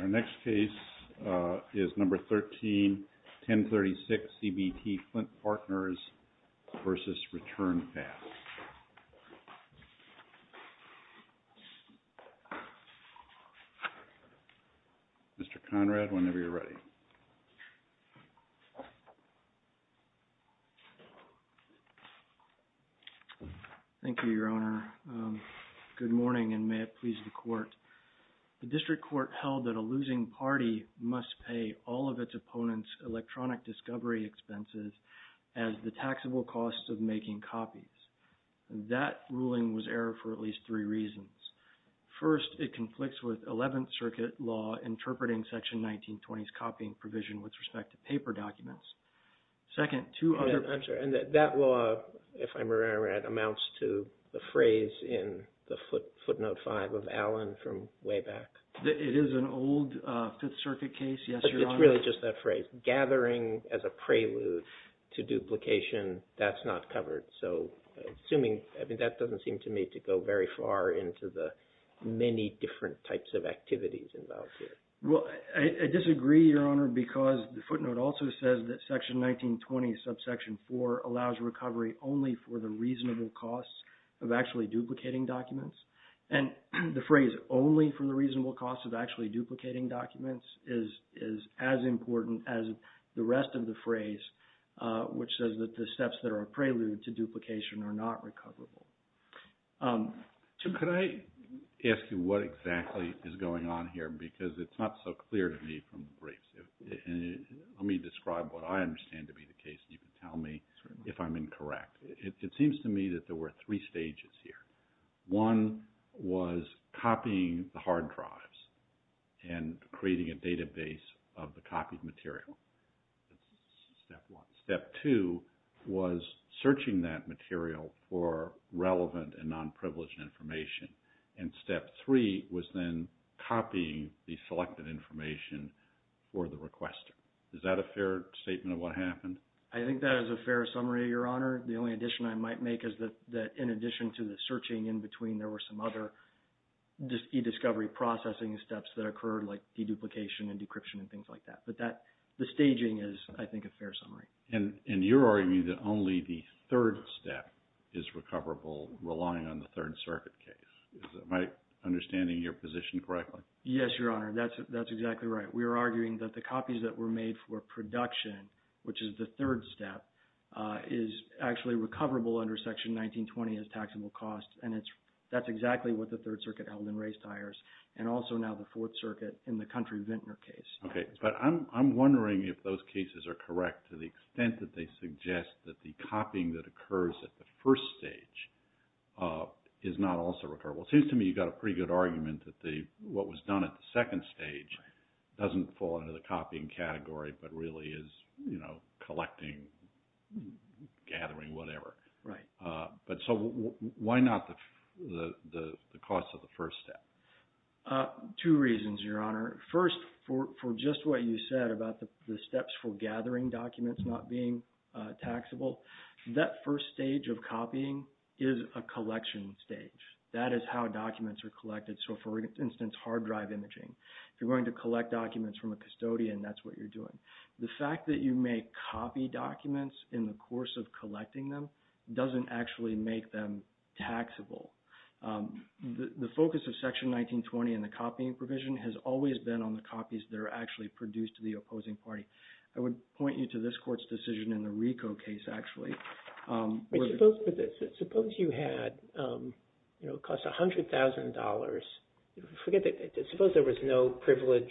Our next case is number 13, 1036, CBT, Flint Partners versus Return Pass. Mr. Conrad, whenever you're ready. Thank you, Your Honor. Good morning, and may it please the Court. The District Court held that a losing party must pay all of its opponents' electronic discovery expenses as the taxable costs of making copies. That ruling was error for at least three reasons. First, it conflicts with Eleventh Circuit law interpreting Section 1920's copying provision with respect to paper documents. Second, two other... I'm sorry, and that law, if I'm remembering right, amounts to the phrase in the footnote five of Allen from way back... It is an old Fifth Circuit case, yes, Your Honor. It's really just that phrase, gathering as a prelude to duplication. That's not covered. So assuming... I mean, that doesn't seem to me to go very far into the many different types of activities involved here. Well, I disagree, Your Honor, because the footnote also says that Section 1920, subsection four, allows recovery only for the reasonable costs of actually duplicating documents. And the phrase, only for the reasonable costs of actually duplicating documents, is as important as the rest of the phrase, which says that the steps that are a prelude to duplication are not recoverable. Tim, could I ask you what exactly is going on here, because it's not so clear to me from the briefs. Let me describe what I understand to be the case, and you can tell me if I'm incorrect. It seems to me that there were three stages here. One was copying the hard drives and creating a database of the copied material. That's step one. Step two was searching that material for relevant and non-privileged information. And step three was then copying the selected information for the requester. Is that a fair statement of what happened? I think that is a fair summary, Your Honor. The only addition I might make is that in addition to the searching in between, there were some other e-discovery processing steps that occurred, like deduplication and decryption and things like that. But the staging is, I think, a fair summary. And you're arguing that only the third step is recoverable, relying on the Third Circuit case. Am I understanding your position correctly? Yes, Your Honor. That's exactly right. We are arguing that the copies that were made for production, which is the third step, is actually recoverable under Section 1920 as taxable costs. And that's exactly what the Third Circuit held in race tires, and also now the Fourth Circuit in the Country-Vintner case. Okay. But I'm wondering if those cases are correct to the extent that they suggest that the copying that occurs at the first stage is not also recoverable. It seems to me you've got a pretty good argument that what was done at the second stage doesn't fall under the copying category, but really is, you know, collecting, gathering, whatever. Right. But so why not the cost of the first step? Two reasons, Your Honor. First, for just what you said about the steps for gathering documents not being taxable, that first stage of copying is a collection stage. That is how documents are collected. So for instance, hard drive imaging. If you're going to collect documents from a custodian, that's what you're doing. The fact that you make copy documents in the course of collecting them doesn't actually make them taxable. The focus of Section 1920 and the copying provision has always been on the copies that are actually produced to the opposing party. I would point you to this Court's decision in the RICO case, actually. Suppose you had, you know, it costs $100,000. Suppose there was no privilege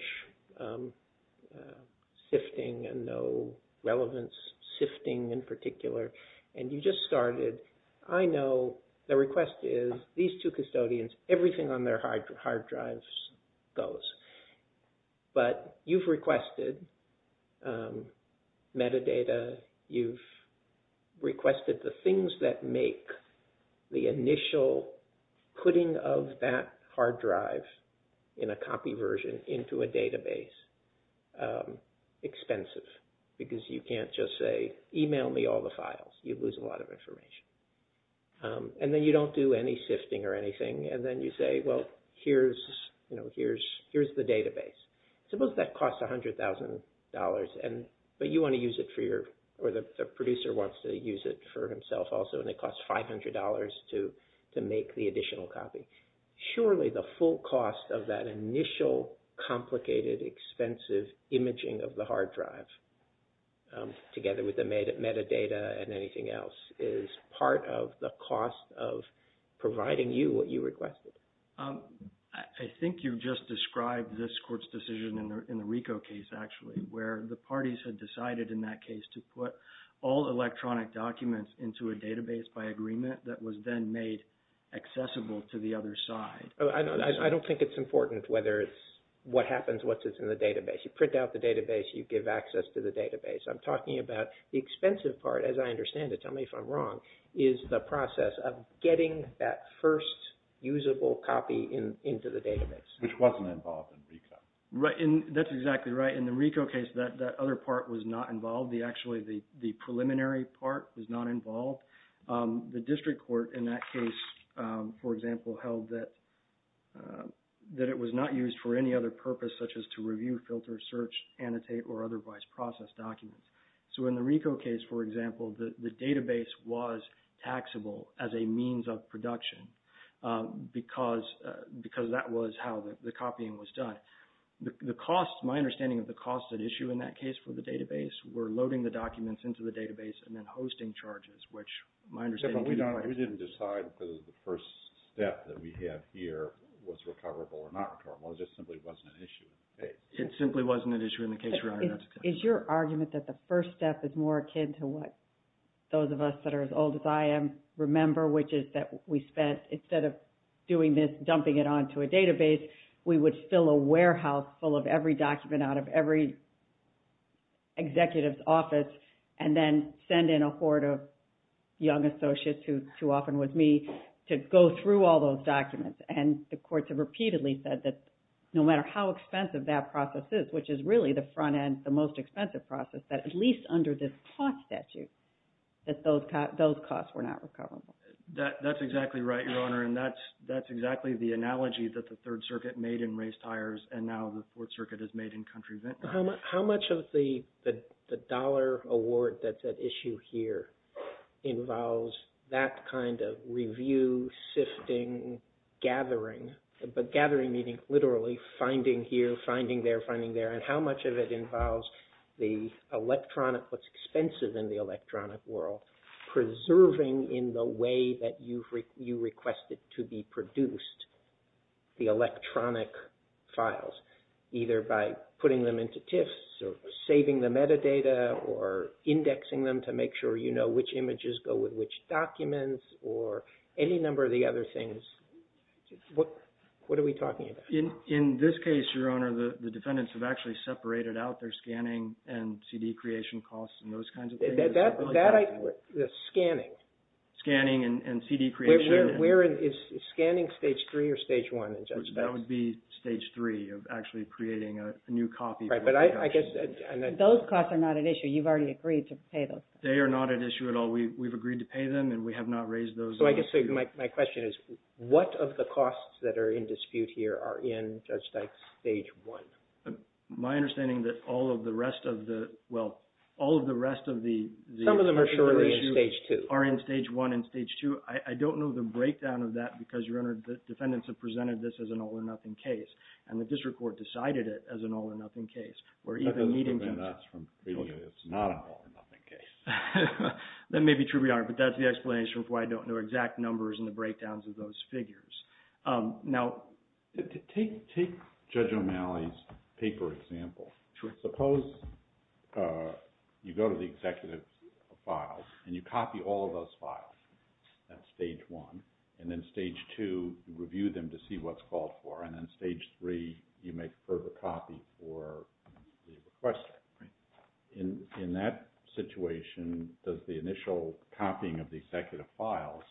sifting and no relevance sifting in particular, and you just started. I know the request is these two custodians, everything on their hard drives goes, but you've requested metadata, you've requested the things that make the initial putting of that hard drive in a copy version into a database expensive, because you can't just say, email me all the files. You'd lose a lot of information. And then you don't do any sifting or anything, and then you say, well, here's the database. Suppose that costs $100,000, but you want to use it for your, or the producer wants to use it for himself also, and it costs $500 to make the additional copy. Surely the full cost of that initial complicated, expensive imaging of the hard drive, together with the metadata and anything else, is part of the cost of providing you what you requested. I think you've just described this court's decision in the RICO case, actually, where the parties had decided in that case to put all electronic documents into a database by agreement that was then made accessible to the other side. I don't think it's important whether it's what happens once it's in the database. You print out the database, you give access to the database. I'm talking about the expensive part, as I understand it, tell me if I'm wrong, is the into the database. Which wasn't involved in RICO. That's exactly right. In the RICO case, that other part was not involved. Actually, the preliminary part was not involved. The district court in that case, for example, held that it was not used for any other purpose such as to review, filter, search, annotate, or otherwise process documents. So in the RICO case, for example, the database was taxable as a means of production because that was how the copying was done. The cost, my understanding of the cost at issue in that case for the database, were loading the documents into the database and then hosting charges, which my understanding is we don't... We didn't decide because the first step that we had here was recoverable or not recoverable. It just simply wasn't an issue in the case. It simply wasn't an issue in the case. Is your argument that the first step is more akin to what those of us that are as old as I am remember, which is that we spent... Instead of doing this, dumping it onto a database, we would fill a warehouse full of every document out of every executive's office and then send in a horde of young associates, who often was me, to go through all those documents. And the courts have repeatedly said that no matter how expensive that process is, which is really the front end, the most expensive process, that at least under this cost statute, that those costs were not recoverable. That's exactly right, Your Honor, and that's exactly the analogy that the Third Circuit made in race tires and now the Fourth Circuit has made in country vintners. How much of the dollar award that's at issue here involves that kind of review, sifting, gathering, but gathering meaning literally finding here, finding there, finding there, and how much of it involves the electronic, what's expensive in the electronic world, preserving in the way that you requested to be produced the electronic files, either by putting them into TIFFs or saving the metadata or indexing them to make sure you know which What are we talking about? In this case, Your Honor, the defendants have actually separated out their scanning and CD creation costs and those kinds of things. The scanning? Scanning and CD creation. Is scanning Stage 3 or Stage 1 in judgements? That would be Stage 3 of actually creating a new copy. Those costs are not at issue. You've already agreed to pay those costs. They are not at issue at all. We've agreed to pay them and we have not raised those. I guess my question is, what of the costs that are in dispute here are in Judge Dyke's Stage 1? My understanding that all of the rest of the, well, all of the rest of the Some of them are surely in Stage 2. are in Stage 1 and Stage 2. I don't know the breakdown of that because, Your Honor, the defendants have presented this as an all-or-nothing case and the district court decided it as an all-or-nothing case. That doesn't prevent us from treating it as not an all-or-nothing case. That may be true, Your Honor, but that's the explanation for why I don't know exact numbers and the breakdowns of those figures. Now, take Judge O'Malley's paper example. Suppose you go to the executive files and you copy all of those files. That's Stage 1. And then Stage 2, you review them to see what's called for. And then Stage 3, you make a further copy for the requester. In that situation, does the initial copying of the executive files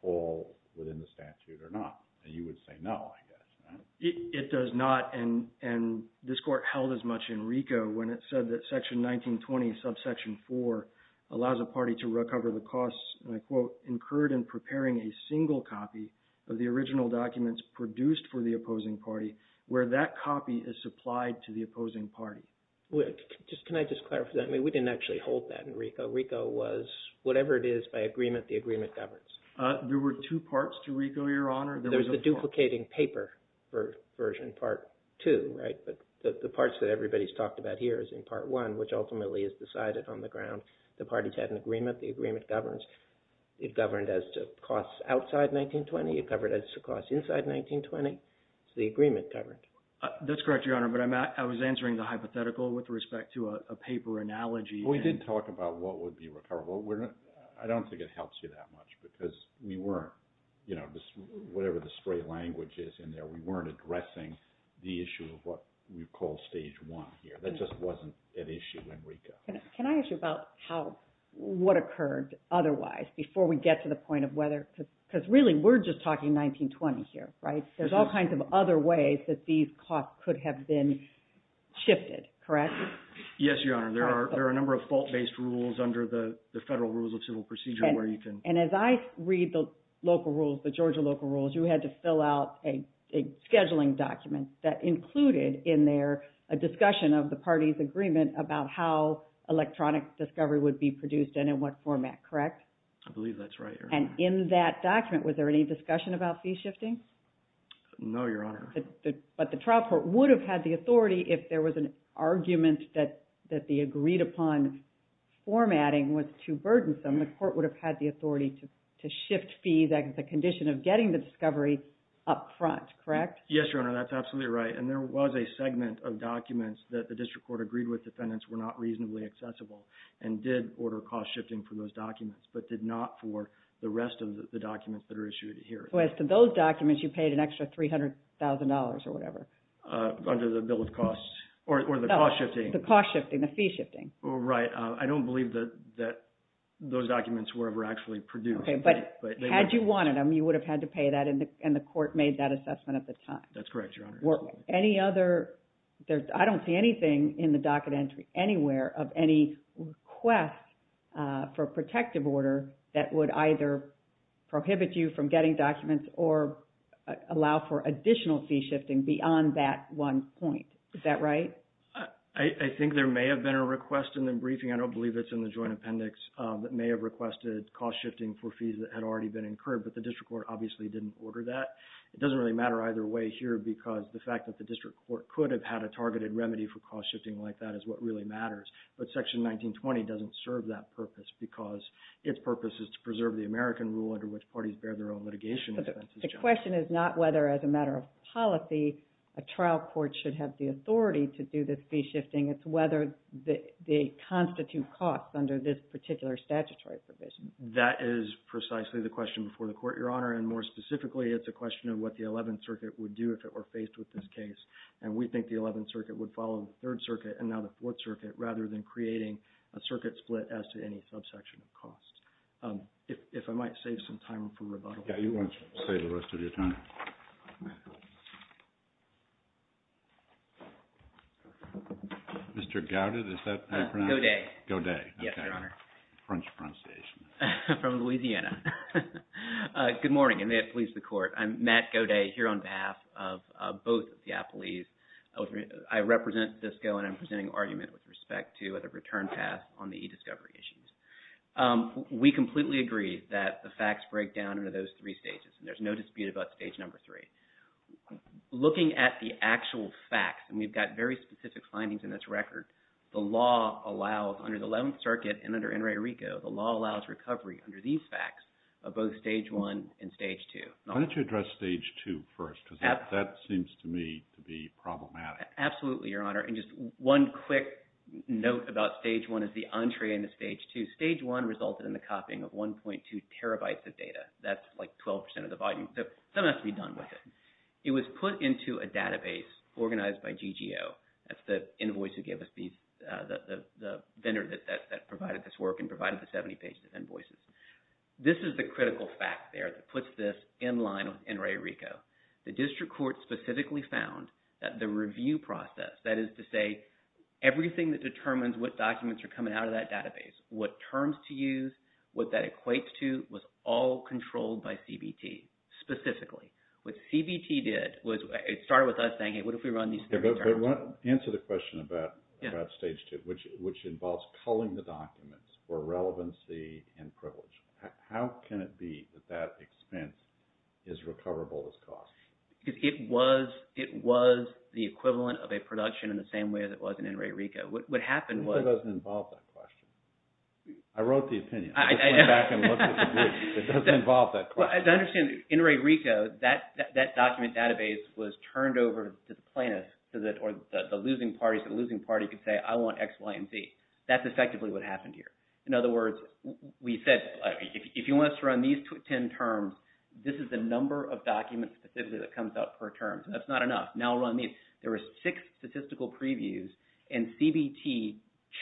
fall within the statute or not? You would say no, I guess, right? It does not, and this court held as much in RICO when it said that Section 1920, subsection 4, allows a party to recover the costs, and I quote, incurred in preparing a single copy of the original documents produced for the opposing party where that copy is supplied to the opposing party. Can I just clarify that? We didn't actually hold that in RICO. RICO was whatever it is by agreement the agreement governs. There were two parts to RICO, Your Honor. There was the duplicating paper version, Part 2, right? But the parts that everybody's talked about here is in Part 1, which ultimately is decided on the ground. The parties had an agreement. The agreement governs. It governed as to costs outside 1920. It governed as to costs inside 1920. So the agreement governed. That's correct, Your Honor. But I was answering the hypothetical with respect to a paper analogy. We did talk about what would be recoverable. I don't think it helps you that much because we weren't, you know, whatever the straight language is in there, we weren't addressing the issue of what we call Stage 1 here. That just wasn't an issue in RICO. Can I ask you about what occurred otherwise before we get to the point of whether because really we're just talking 1920 here, right? There's all kinds of other ways that these costs could have been shifted, correct? Yes, Your Honor. There are a number of fault-based rules under the Federal Rules of Civil Procedure where you can. And as I read the local rules, the Georgia local rules, you had to fill out a scheduling document that included in there a discussion of the parties' agreement about how electronic discovery would be produced and in what format, correct? I believe that's right, Your Honor. And in that document, was there any discussion about fee shifting? No, Your Honor. But the trial court would have had the authority if there was an argument that the agreed-upon formatting was too burdensome. The court would have had the authority to shift fees as a condition of getting the discovery up front, correct? Yes, Your Honor. That's absolutely right. And there was a segment of documents that the district court agreed with defendants were not reasonably accessible and did order cost shifting for those documents but did not for the rest of the documents that are issued here. So as to those documents, you paid an extra $300,000 or whatever? Under the bill of costs or the cost shifting. The cost shifting, the fee shifting. Right. I don't believe that those documents were ever actually produced. Okay. But had you wanted them, you would have had to pay that and the court made that assessment at the time. That's correct, Your Honor. I don't see anything in the docket entry anywhere of any request for protective order that would either prohibit you from getting documents or allow for additional fee shifting beyond that one point. Is that right? I think there may have been a request in the briefing. I don't believe it's in the joint appendix. It may have requested cost shifting for fees that had already been incurred, but the district court obviously didn't order that. It doesn't really matter either way here because the fact that the district court could have had a targeted remedy for cost shifting like that is what really matters. But Section 1920 doesn't serve that purpose because its purpose is to preserve the American rule under which parties bear their own litigation expenses. The question is not whether, as a matter of policy, a trial court should have the authority to do this fee shifting. It's whether they constitute costs under this particular statutory provision. That is precisely the question before the court, Your Honor, and more specifically it's a question of what the Eleventh Circuit would do if it were faced with this case. And we think the Eleventh Circuit would follow the Third Circuit and now the Fourth Circuit rather than creating a circuit split as to any subsection of costs. If I might save some time for rebuttal. Yeah, you want to save the rest of your time. Mr. Gouda, is that how you pronounce it? Godet. Godet. Yes, Your Honor. French pronunciation. From Louisiana. Good morning, and may it please the Court. I'm Matt Gouda here on behalf of both of the appellees. I represent Cisco and I'm presenting an argument with respect to the return pass on the e-discovery issues. We completely agree that the facts break down into those three stages and there's no dispute about stage number three. Looking at the actual facts, and we've got very specific findings in this record, the law allows under the Eleventh Circuit and under NRA-RICO, the law allows recovery under these facts, both stage one and stage two. Why don't you address stage two first because that seems to me to be problematic. Absolutely, Your Honor. And just one quick note about stage one is the entree into stage two. Stage one resulted in the copying of 1.2 terabytes of data. That's like 12% of the volume, so something has to be done with it. It was put into a database organized by GGO. That's the invoice that gave us the vendor that provided this work and provided the 70 pages of invoices. This is the critical fact there that puts this in line with NRA-RICO. The district court specifically found that the review process, that is to say everything that determines what documents are coming out of that database, what terms to use, what that equates to was all controlled by CBT specifically. What CBT did was it started with us saying, hey, what if we run these three terms? Answer the question about stage two, which involves culling the documents for relevancy and privilege. How can it be that that expense is recoverable as cost? It was the equivalent of a production in the same way as it was in NRA-RICO. What happened was— It doesn't involve that question. I wrote the opinion. Let's go back and look at the brief. It doesn't involve that question. As I understand, NRA-RICO, that document database was turned over to the plaintiffs or the losing parties. The losing party could say, I want X, Y, and Z. That's effectively what happened here. In other words, we said, if you want us to run these 10 terms, this is the number of documents specifically that comes out per term. That's not enough. Now we're on these. There were six statistical previews, and CBT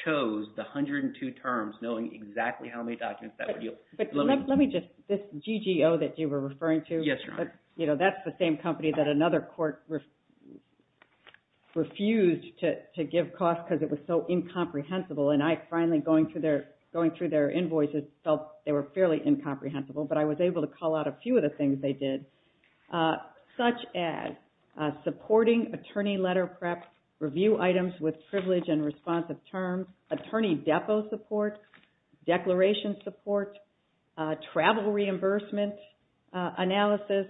chose the 102 terms knowing exactly how many documents that would yield. This GGO that you were referring to, that's the same company that another court refused to give costs because it was so incomprehensible. I finally, going through their invoices, felt they were fairly incomprehensible, but I was able to call out a few of the things they did, such as supporting attorney letter prep, review items with privilege and responsive terms, attorney depot support, declaration support, travel reimbursement analysis,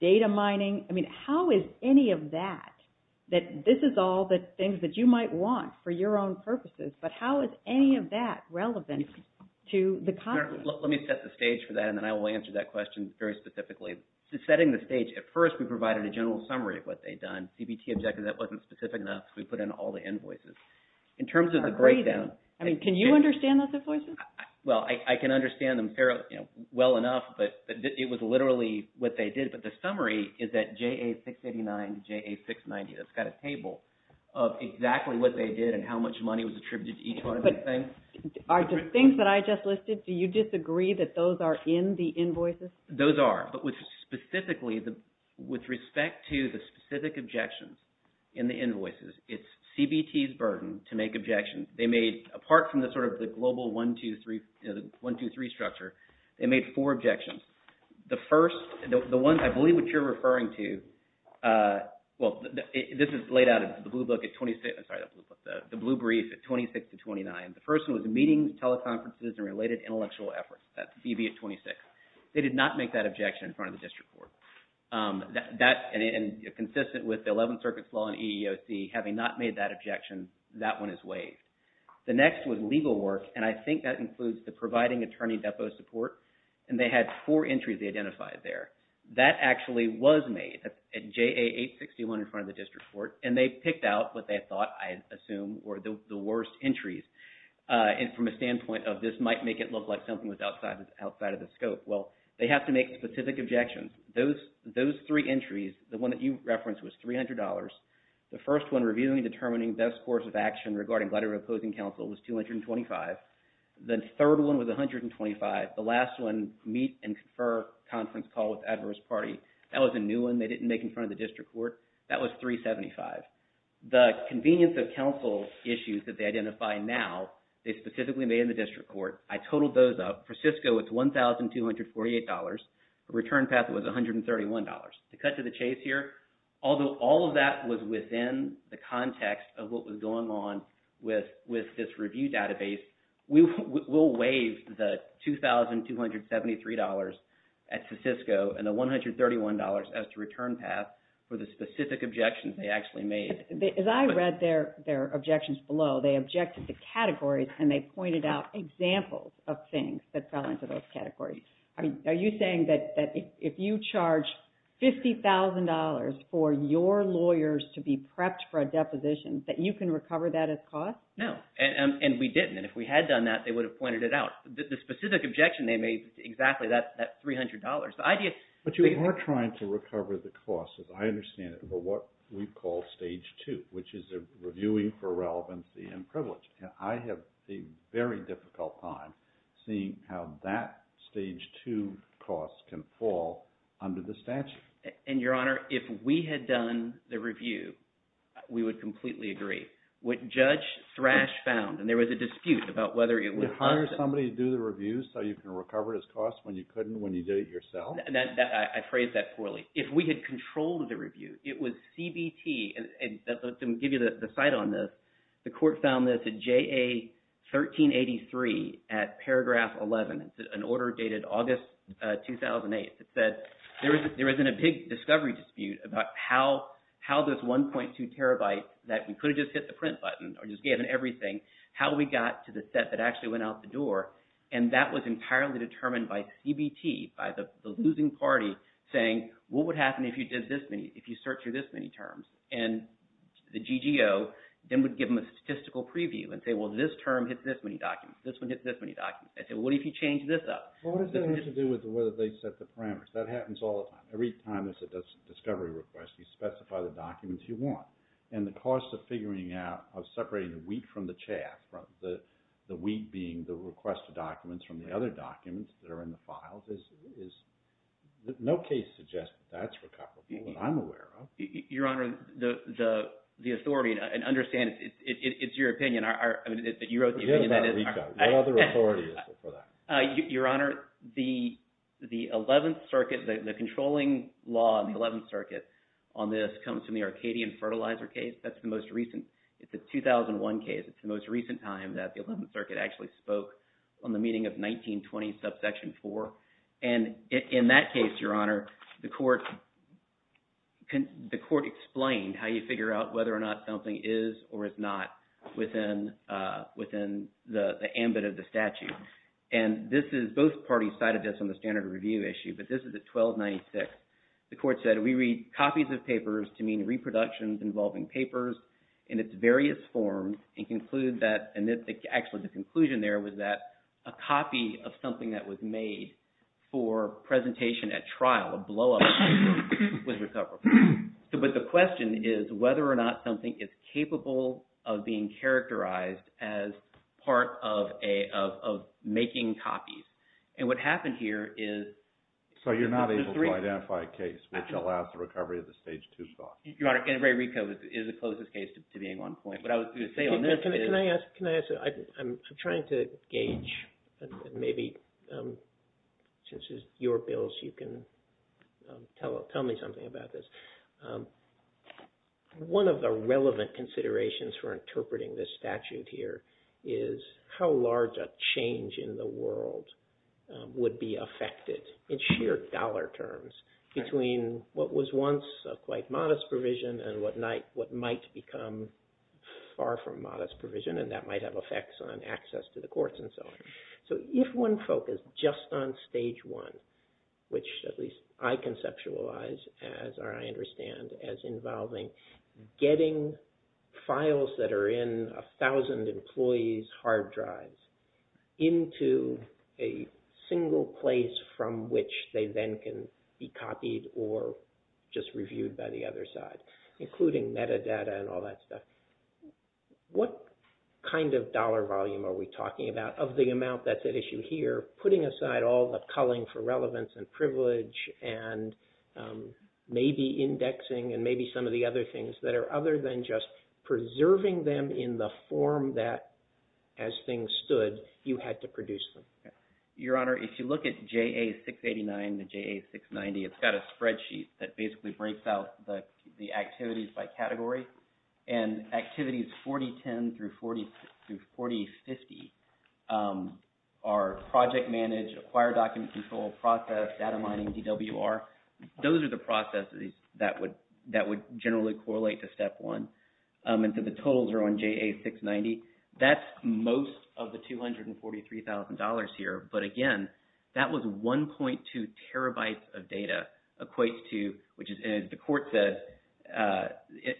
data mining. I mean, how is any of that, that this is all the things that you might want for your own purposes, but how is any of that relevant to the company? Let me set the stage for that, and then I will answer that question very specifically. Setting the stage, at first we provided a general summary of what they'd done. CBT objected that wasn't specific enough, so we put in all the invoices. In terms of the breakdown... I agree, though. I mean, can you understand those invoices? Well, I can understand them well enough, but it was literally what they did. But the summary is that JA-689, JA-690, that's got a table of exactly what they did and how much money was attributed to each one of those things. But are the things that I just listed, do you disagree that those are in the invoices? Those are, but specifically, with respect to the specific objections in the invoices, it's CBT's burden to make objections. They made, apart from the sort of the global one, two, three structure, they made four objections. The first, the ones I believe which you're referring to, well, this is laid out in the blue book at 26... I'm sorry, the blue brief at 26 to 29. The first one was meetings, teleconferences, and related intellectual efforts. That's CB at 26. They did not make that objection in front of the district court. And consistent with the Eleventh Circuit's law and EEOC, having not made that objection, that one is waived. The next was legal work, and I think that includes the providing attorney depot support. And they had four entries they identified there. That actually was made at JA-861 in front of the district court, and they picked out what they thought, I assume, were the worst entries from a standpoint of this might make it look like something was outside of the scope. Well, they have to make specific objections. Those three entries, the one that you referenced, was $300. The first one, reviewing and determining best course of action regarding letter of opposing counsel, was $225. The third one was $125. The last one, meet and confer conference call with adverse party. That was a new one they didn't make in front of the district court. That was $375. The convenience of counsel issues that they identify now, they specifically made in the district court. I totaled those up. For Cisco, it's $1,248. The return path was $131. To cut to the chase here, although all of that was within the context of what was going on with this review database, we'll waive the $2,273 at Cisco and the $131 as the return path for the specific objections they actually made. As I read their objections below, they objected to categories and they pointed out examples of things that fell into those categories. Are you saying that if you charge $50,000 for your lawyers to be prepped for a deposition, that you can recover that as cost? No, and we didn't. If we had done that, they would have pointed it out. The specific objection they made is exactly that $300. But you are trying to recover the cost, as I understand it, for what we call Stage 2, which is reviewing for relevancy and privilege. And I have a very difficult time seeing how that Stage 2 cost can fall under the statute. And, Your Honor, if we had done the review, we would completely agree. What Judge Thrash found, and there was a dispute about whether it was… You hire somebody to do the review so you can recover this cost when you couldn't when you did it yourself? I phrased that poorly. If we had controlled the review, it was CBT. Let me give you the cite on this. The court found this at JA 1383 at paragraph 11. It's an order dated August 2008 that said there was a big discovery dispute about how this 1.2 terabyte that we could have just hit the print button or just given everything, how we got to the set that actually went out the door, and that was entirely determined by CBT, by the losing party, saying, what would happen if you search through this many terms? And the GGO then would give them a statistical preview and say, well, this term hits this many documents. This one hits this many documents. I said, well, what if you change this up? Well, what does that have to do with whether they set the parameters? That happens all the time. Every time there's a discovery request, you specify the documents you want. And the cost of figuring out, of separating the wheat from the chaff, the wheat being the requested documents from the other documents that are in the files, no case suggests that that's recoverable, what I'm aware of. Your Honor, the authority, and understand, it's your opinion. You wrote the opinion. What other authority is there for that? Your Honor, the 11th Circuit, the controlling law in the 11th Circuit on this comes from the Arcadian Fertilizer case. That's the most recent. It's a 2001 case. It's the most recent time that the 11th Circuit actually spoke on the meeting of 1920, in subsection 4. And in that case, Your Honor, the court explained how you figure out whether or not something is or is not within the ambit of the statute. And this is, both parties cited this on the standard review issue, but this is at 1296. The court said, we read copies of papers to mean reproductions involving papers in its various forms and conclude that, and actually the conclusion there was that a copy of something that was made for presentation at trial, a blow-up paper, was recoverable. But the question is whether or not something is capable of being characterized as part of making copies. And what happened here is… So you're not able to identify a case which allows the recovery of the stage 2 fault. Your Honor, and Ray Rico is the closest case to being on point. What I was going to say on this is… Can I ask, I'm trying to gauge, maybe since it's your bills, you can tell me something about this. One of the relevant considerations for interpreting this statute here is how large a change in the world would be affected in sheer dollar terms between what was once a quite modest provision and what might become far from modest provision, and that might have effects on access to the courts and so on. So if one focused just on stage 1, which at least I conceptualize as, or I understand as, involving getting files that are in a thousand employees' hard drives into a single place from which they then can be copied or just reviewed by the other side, including metadata and all that stuff, what kind of dollar volume are we talking about of the amount that's at issue here, putting aside all the culling for relevance and privilege and maybe indexing and maybe some of the other things that are other than just preserving them in the form that, as things stood, you had to produce them? Your Honor, if you look at JA-689 and JA-690, it's got a spreadsheet that basically breaks out the activities by category, and activities 4010 through 4050 are project manage, acquire document control process, data mining, DWR. Those are the processes that would generally correlate to step 1, and so the totals are on JA-690. That's most of the $243,000 here, but again, that was 1.2 terabytes of data equates to, which the court says,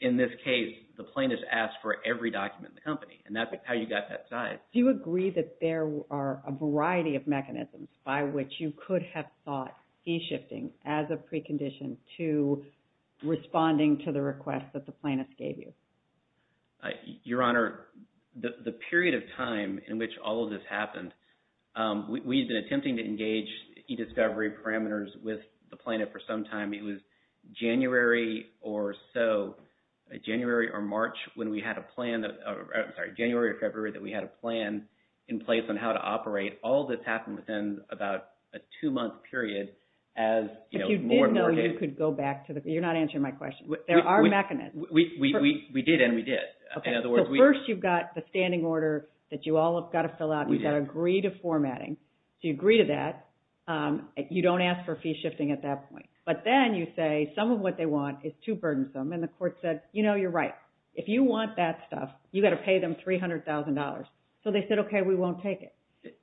in this case, the plaintiff asked for every document in the company, and that's how you got that size. Do you agree that there are a variety of mechanisms by which you could have thought C-shifting as a precondition to responding to the request that the plaintiff gave you? Your Honor, the period of time in which all of this happened, we've been attempting to engage e-discovery parameters with the plaintiff for some time. It was January or so, January or March, when we had a plan, I'm sorry, January or February that we had a plan in place on how to operate. All of this happened within about a two-month period as, you know, more markets. But you did know you could go back to the, you're not answering my question. There are mechanisms. We did, and we did. Okay, so first you've got the standing order that you all have got to fill out. We've got to agree to formatting. So you agree to that. You don't ask for fee shifting at that point. But then you say some of what they want is too burdensome, and the court said, you know, you're right. If you want that stuff, you've got to pay them $300,000. So they said, okay, we won't take it.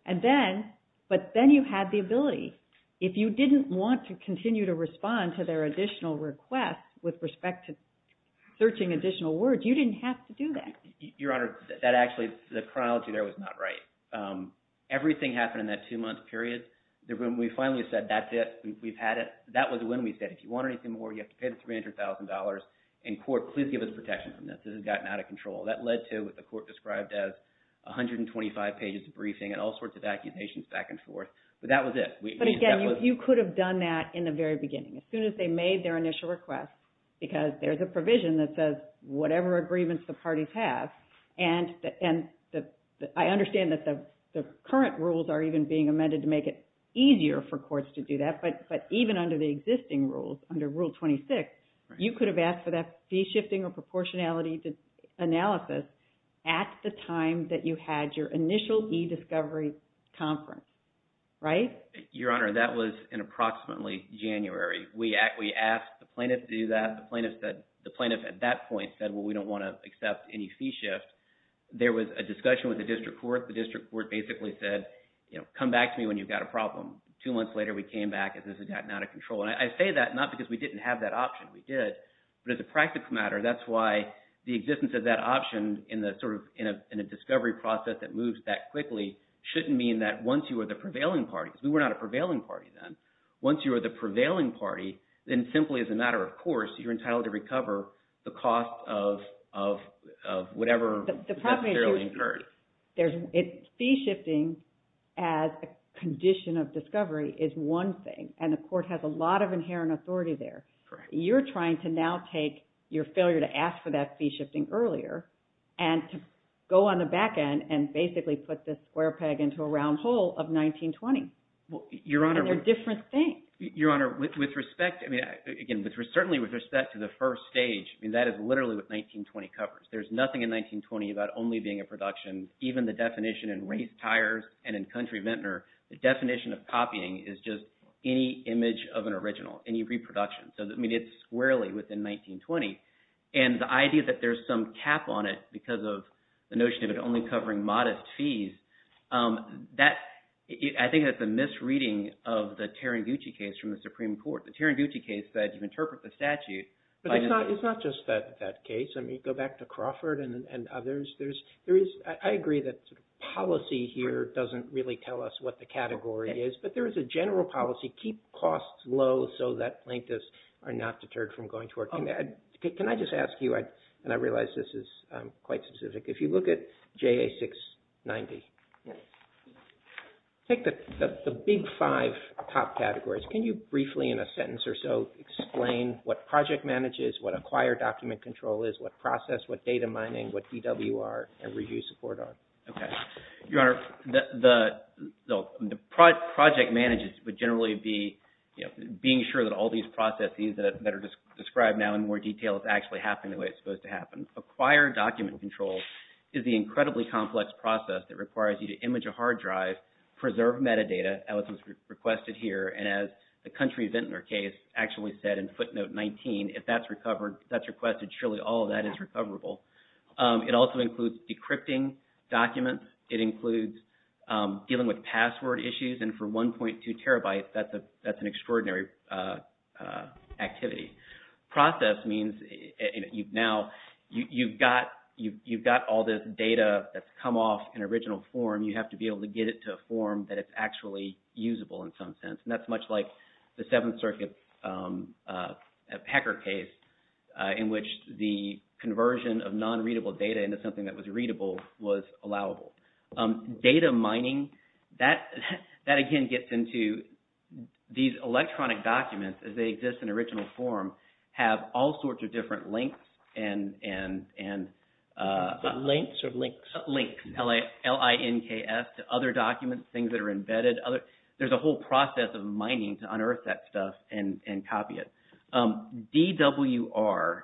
And then, but then you had the ability. If you didn't want to continue to respond to their additional requests with respect to searching additional words, you didn't have to do that. Your Honor, that actually, the chronology there was not right. Everything happened in that two-month period. When we finally said that's it, we've had it, that was when we said, if you want anything more, you have to pay them $300,000, and court, please give us protection from this. This has gotten out of control. That led to what the court described as 125 pages of briefing and all sorts of accusations back and forth. But that was it. But again, you could have done that in the very beginning. As soon as they made their initial request, because there's a provision that says whatever agreements the parties have, and I understand that the current rules are even being amended to make it easier for courts to do that. But even under the existing rules, under Rule 26, you could have asked for that fee shifting or proportionality analysis at the time that you had your initial e-discovery conference, right? Your Honor, that was in approximately January. We asked the plaintiff to do that. The plaintiff at that point said, well, we don't want to accept any fee shift. There was a discussion with the district court. The district court basically said, come back to me when you've got a problem. Two months later, we came back and this has gotten out of control. And I say that not because we didn't have that option. We did. But as a practical matter, that's why the existence of that option in a discovery process that moves that quickly shouldn't mean that once you are the prevailing party, because we were not a prevailing party then. Once you are the prevailing party, then simply as a matter of course, you're entitled to recover the cost of whatever is necessarily incurred. The problem is fee shifting as a condition of discovery is one thing, and the court has a lot of inherent authority there. You're trying to now take your failure to ask for that fee shifting earlier and to go on the back end and basically put this square peg into a round hole of 1920. Your Honor. And they're different things. Your Honor, with respect, I mean, again, certainly with respect to the first stage, I mean, that is literally what 1920 covers. There's nothing in 1920 about only being a production. Even the definition in race tires and in Country Vintner, the definition of copying is just any image of an original, any reproduction. So, I mean, it's squarely within 1920. And the idea that there's some cap on it because of the notion of it only covering modest fees, I think that's a misreading of the Tarangucci case from the Supreme Court. The Tarangucci case said you interpret the statute. But it's not just that case. I mean, go back to Crawford and others. I agree that policy here doesn't really tell us what the category is, but there is a general policy. Keep costs low so that plaintiffs are not deterred from going to work. Can I just ask you, and I realize this is quite specific, if you look at JA 690, take the big five top categories. Can you briefly in a sentence or so explain what project manage is, what acquired document control is, what process, what data mining, what DWR and review support are? Your Honor, the project manage would generally be being sure that all these processes that are described now in more detail is actually happening the way it's supposed to happen. Acquired document control is the incredibly complex process that requires you to image a hard drive, preserve metadata, as was requested here, and as the Country Vintner case actually said in footnote 19, if that's requested, surely all of that is recoverable. It also includes decrypting documents. It includes dealing with password issues. And for 1.2 terabytes, that's an extraordinary activity. Process means now you've got all this data that's come off an original form. You have to be able to get it to a form that it's actually usable in some sense, and that's much like the Seventh Circuit Pecker case in which the conversion of non-readable data into something that was readable was allowable. Data mining, that again gets into these electronic documents as they exist in original form, have all sorts of different links and… Links or links? Links, L-I-N-K-S, to other documents, things that are embedded. There's a whole process of mining to unearth that stuff and copy it. DWR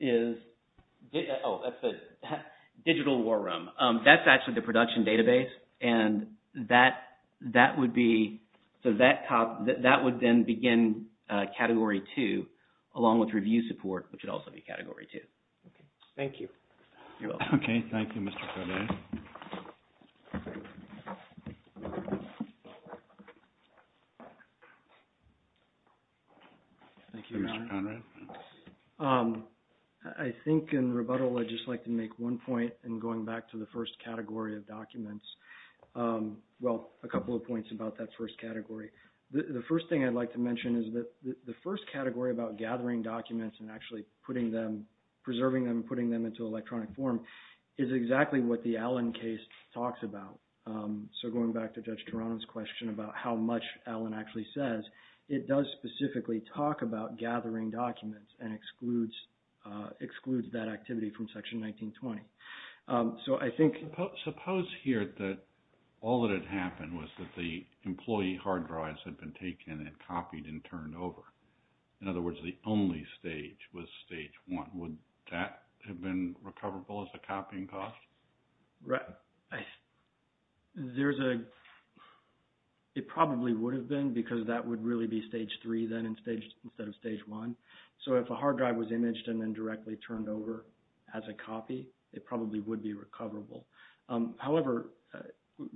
is… Oh, that's the Digital War Room. That's actually the production database, and that would be… So that would then begin Category 2 along with review support, which would also be Category 2. Thank you. You're welcome. Okay. Thank you, Mr. Corbett. Thank you, Mr. Conrad. I think in rebuttal I'd just like to make one point in going back to the first category of documents. Well, a couple of points about that first category. The first thing I'd like to mention is that the first category about gathering documents and actually putting them, preserving them, putting them into electronic form is exactly what the Allen case talks about. So going back to Judge Toronto's question about how much Allen actually says, it does specifically talk about gathering documents and excludes that activity from Section 1920. So I think… Suppose here that all that had happened was that the employee hard drives had been taken and copied and turned over. In other words, the only stage was Stage 1. Would that have been recoverable as a copying cost? Right. There's a… It probably would have been because that would really be Stage 3 then instead of Stage 1. So if a hard drive was imaged and then directly turned over as a copy, it probably would be recoverable. However,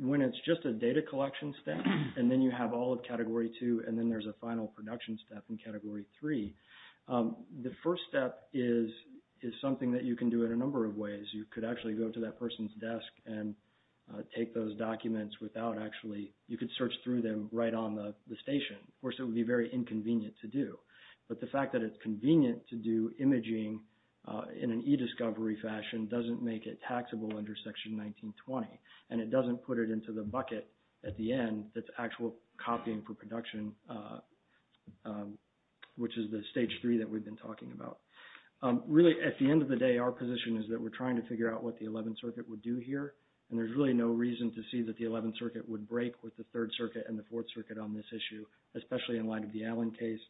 when it's just a data collection step and then you have all of Category 2 and then there's a final production step in Category 3, the first step is something that you can do in a number of ways. You could actually go to that person's desk and take those documents without actually… You could search through them right on the station. Of course, it would be very inconvenient to do. But the fact that it's convenient to do imaging in an e-discovery fashion doesn't make it taxable under Section 1920, and it doesn't put it into the bucket at the end that's actual copying for production, which is the Stage 3 that we've been talking about. Really, at the end of the day, our position is that we're trying to figure out what the 11th Circuit would do here, and there's really no reason to see that the 11th Circuit would break with the 3rd Circuit and the 4th Circuit on this issue, especially in light of the Allen case.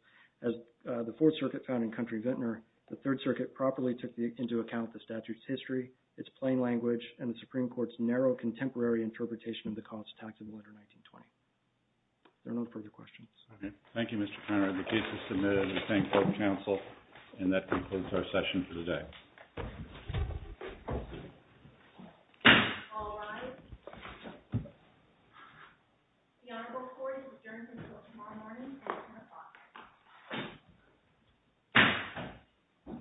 As the 4th Circuit found in Country Vintner, the 3rd Circuit properly took into account the statute's history, its plain language, and the Supreme Court's narrow contemporary interpretation of the cost taxable under 1920. Are there no further questions? Okay. Thank you, Mr. Conner. The case is submitted. We thank both counsel, and that concludes our session for the day. All rise. The Honorable Court is adjourned until tomorrow morning at 10 o'clock.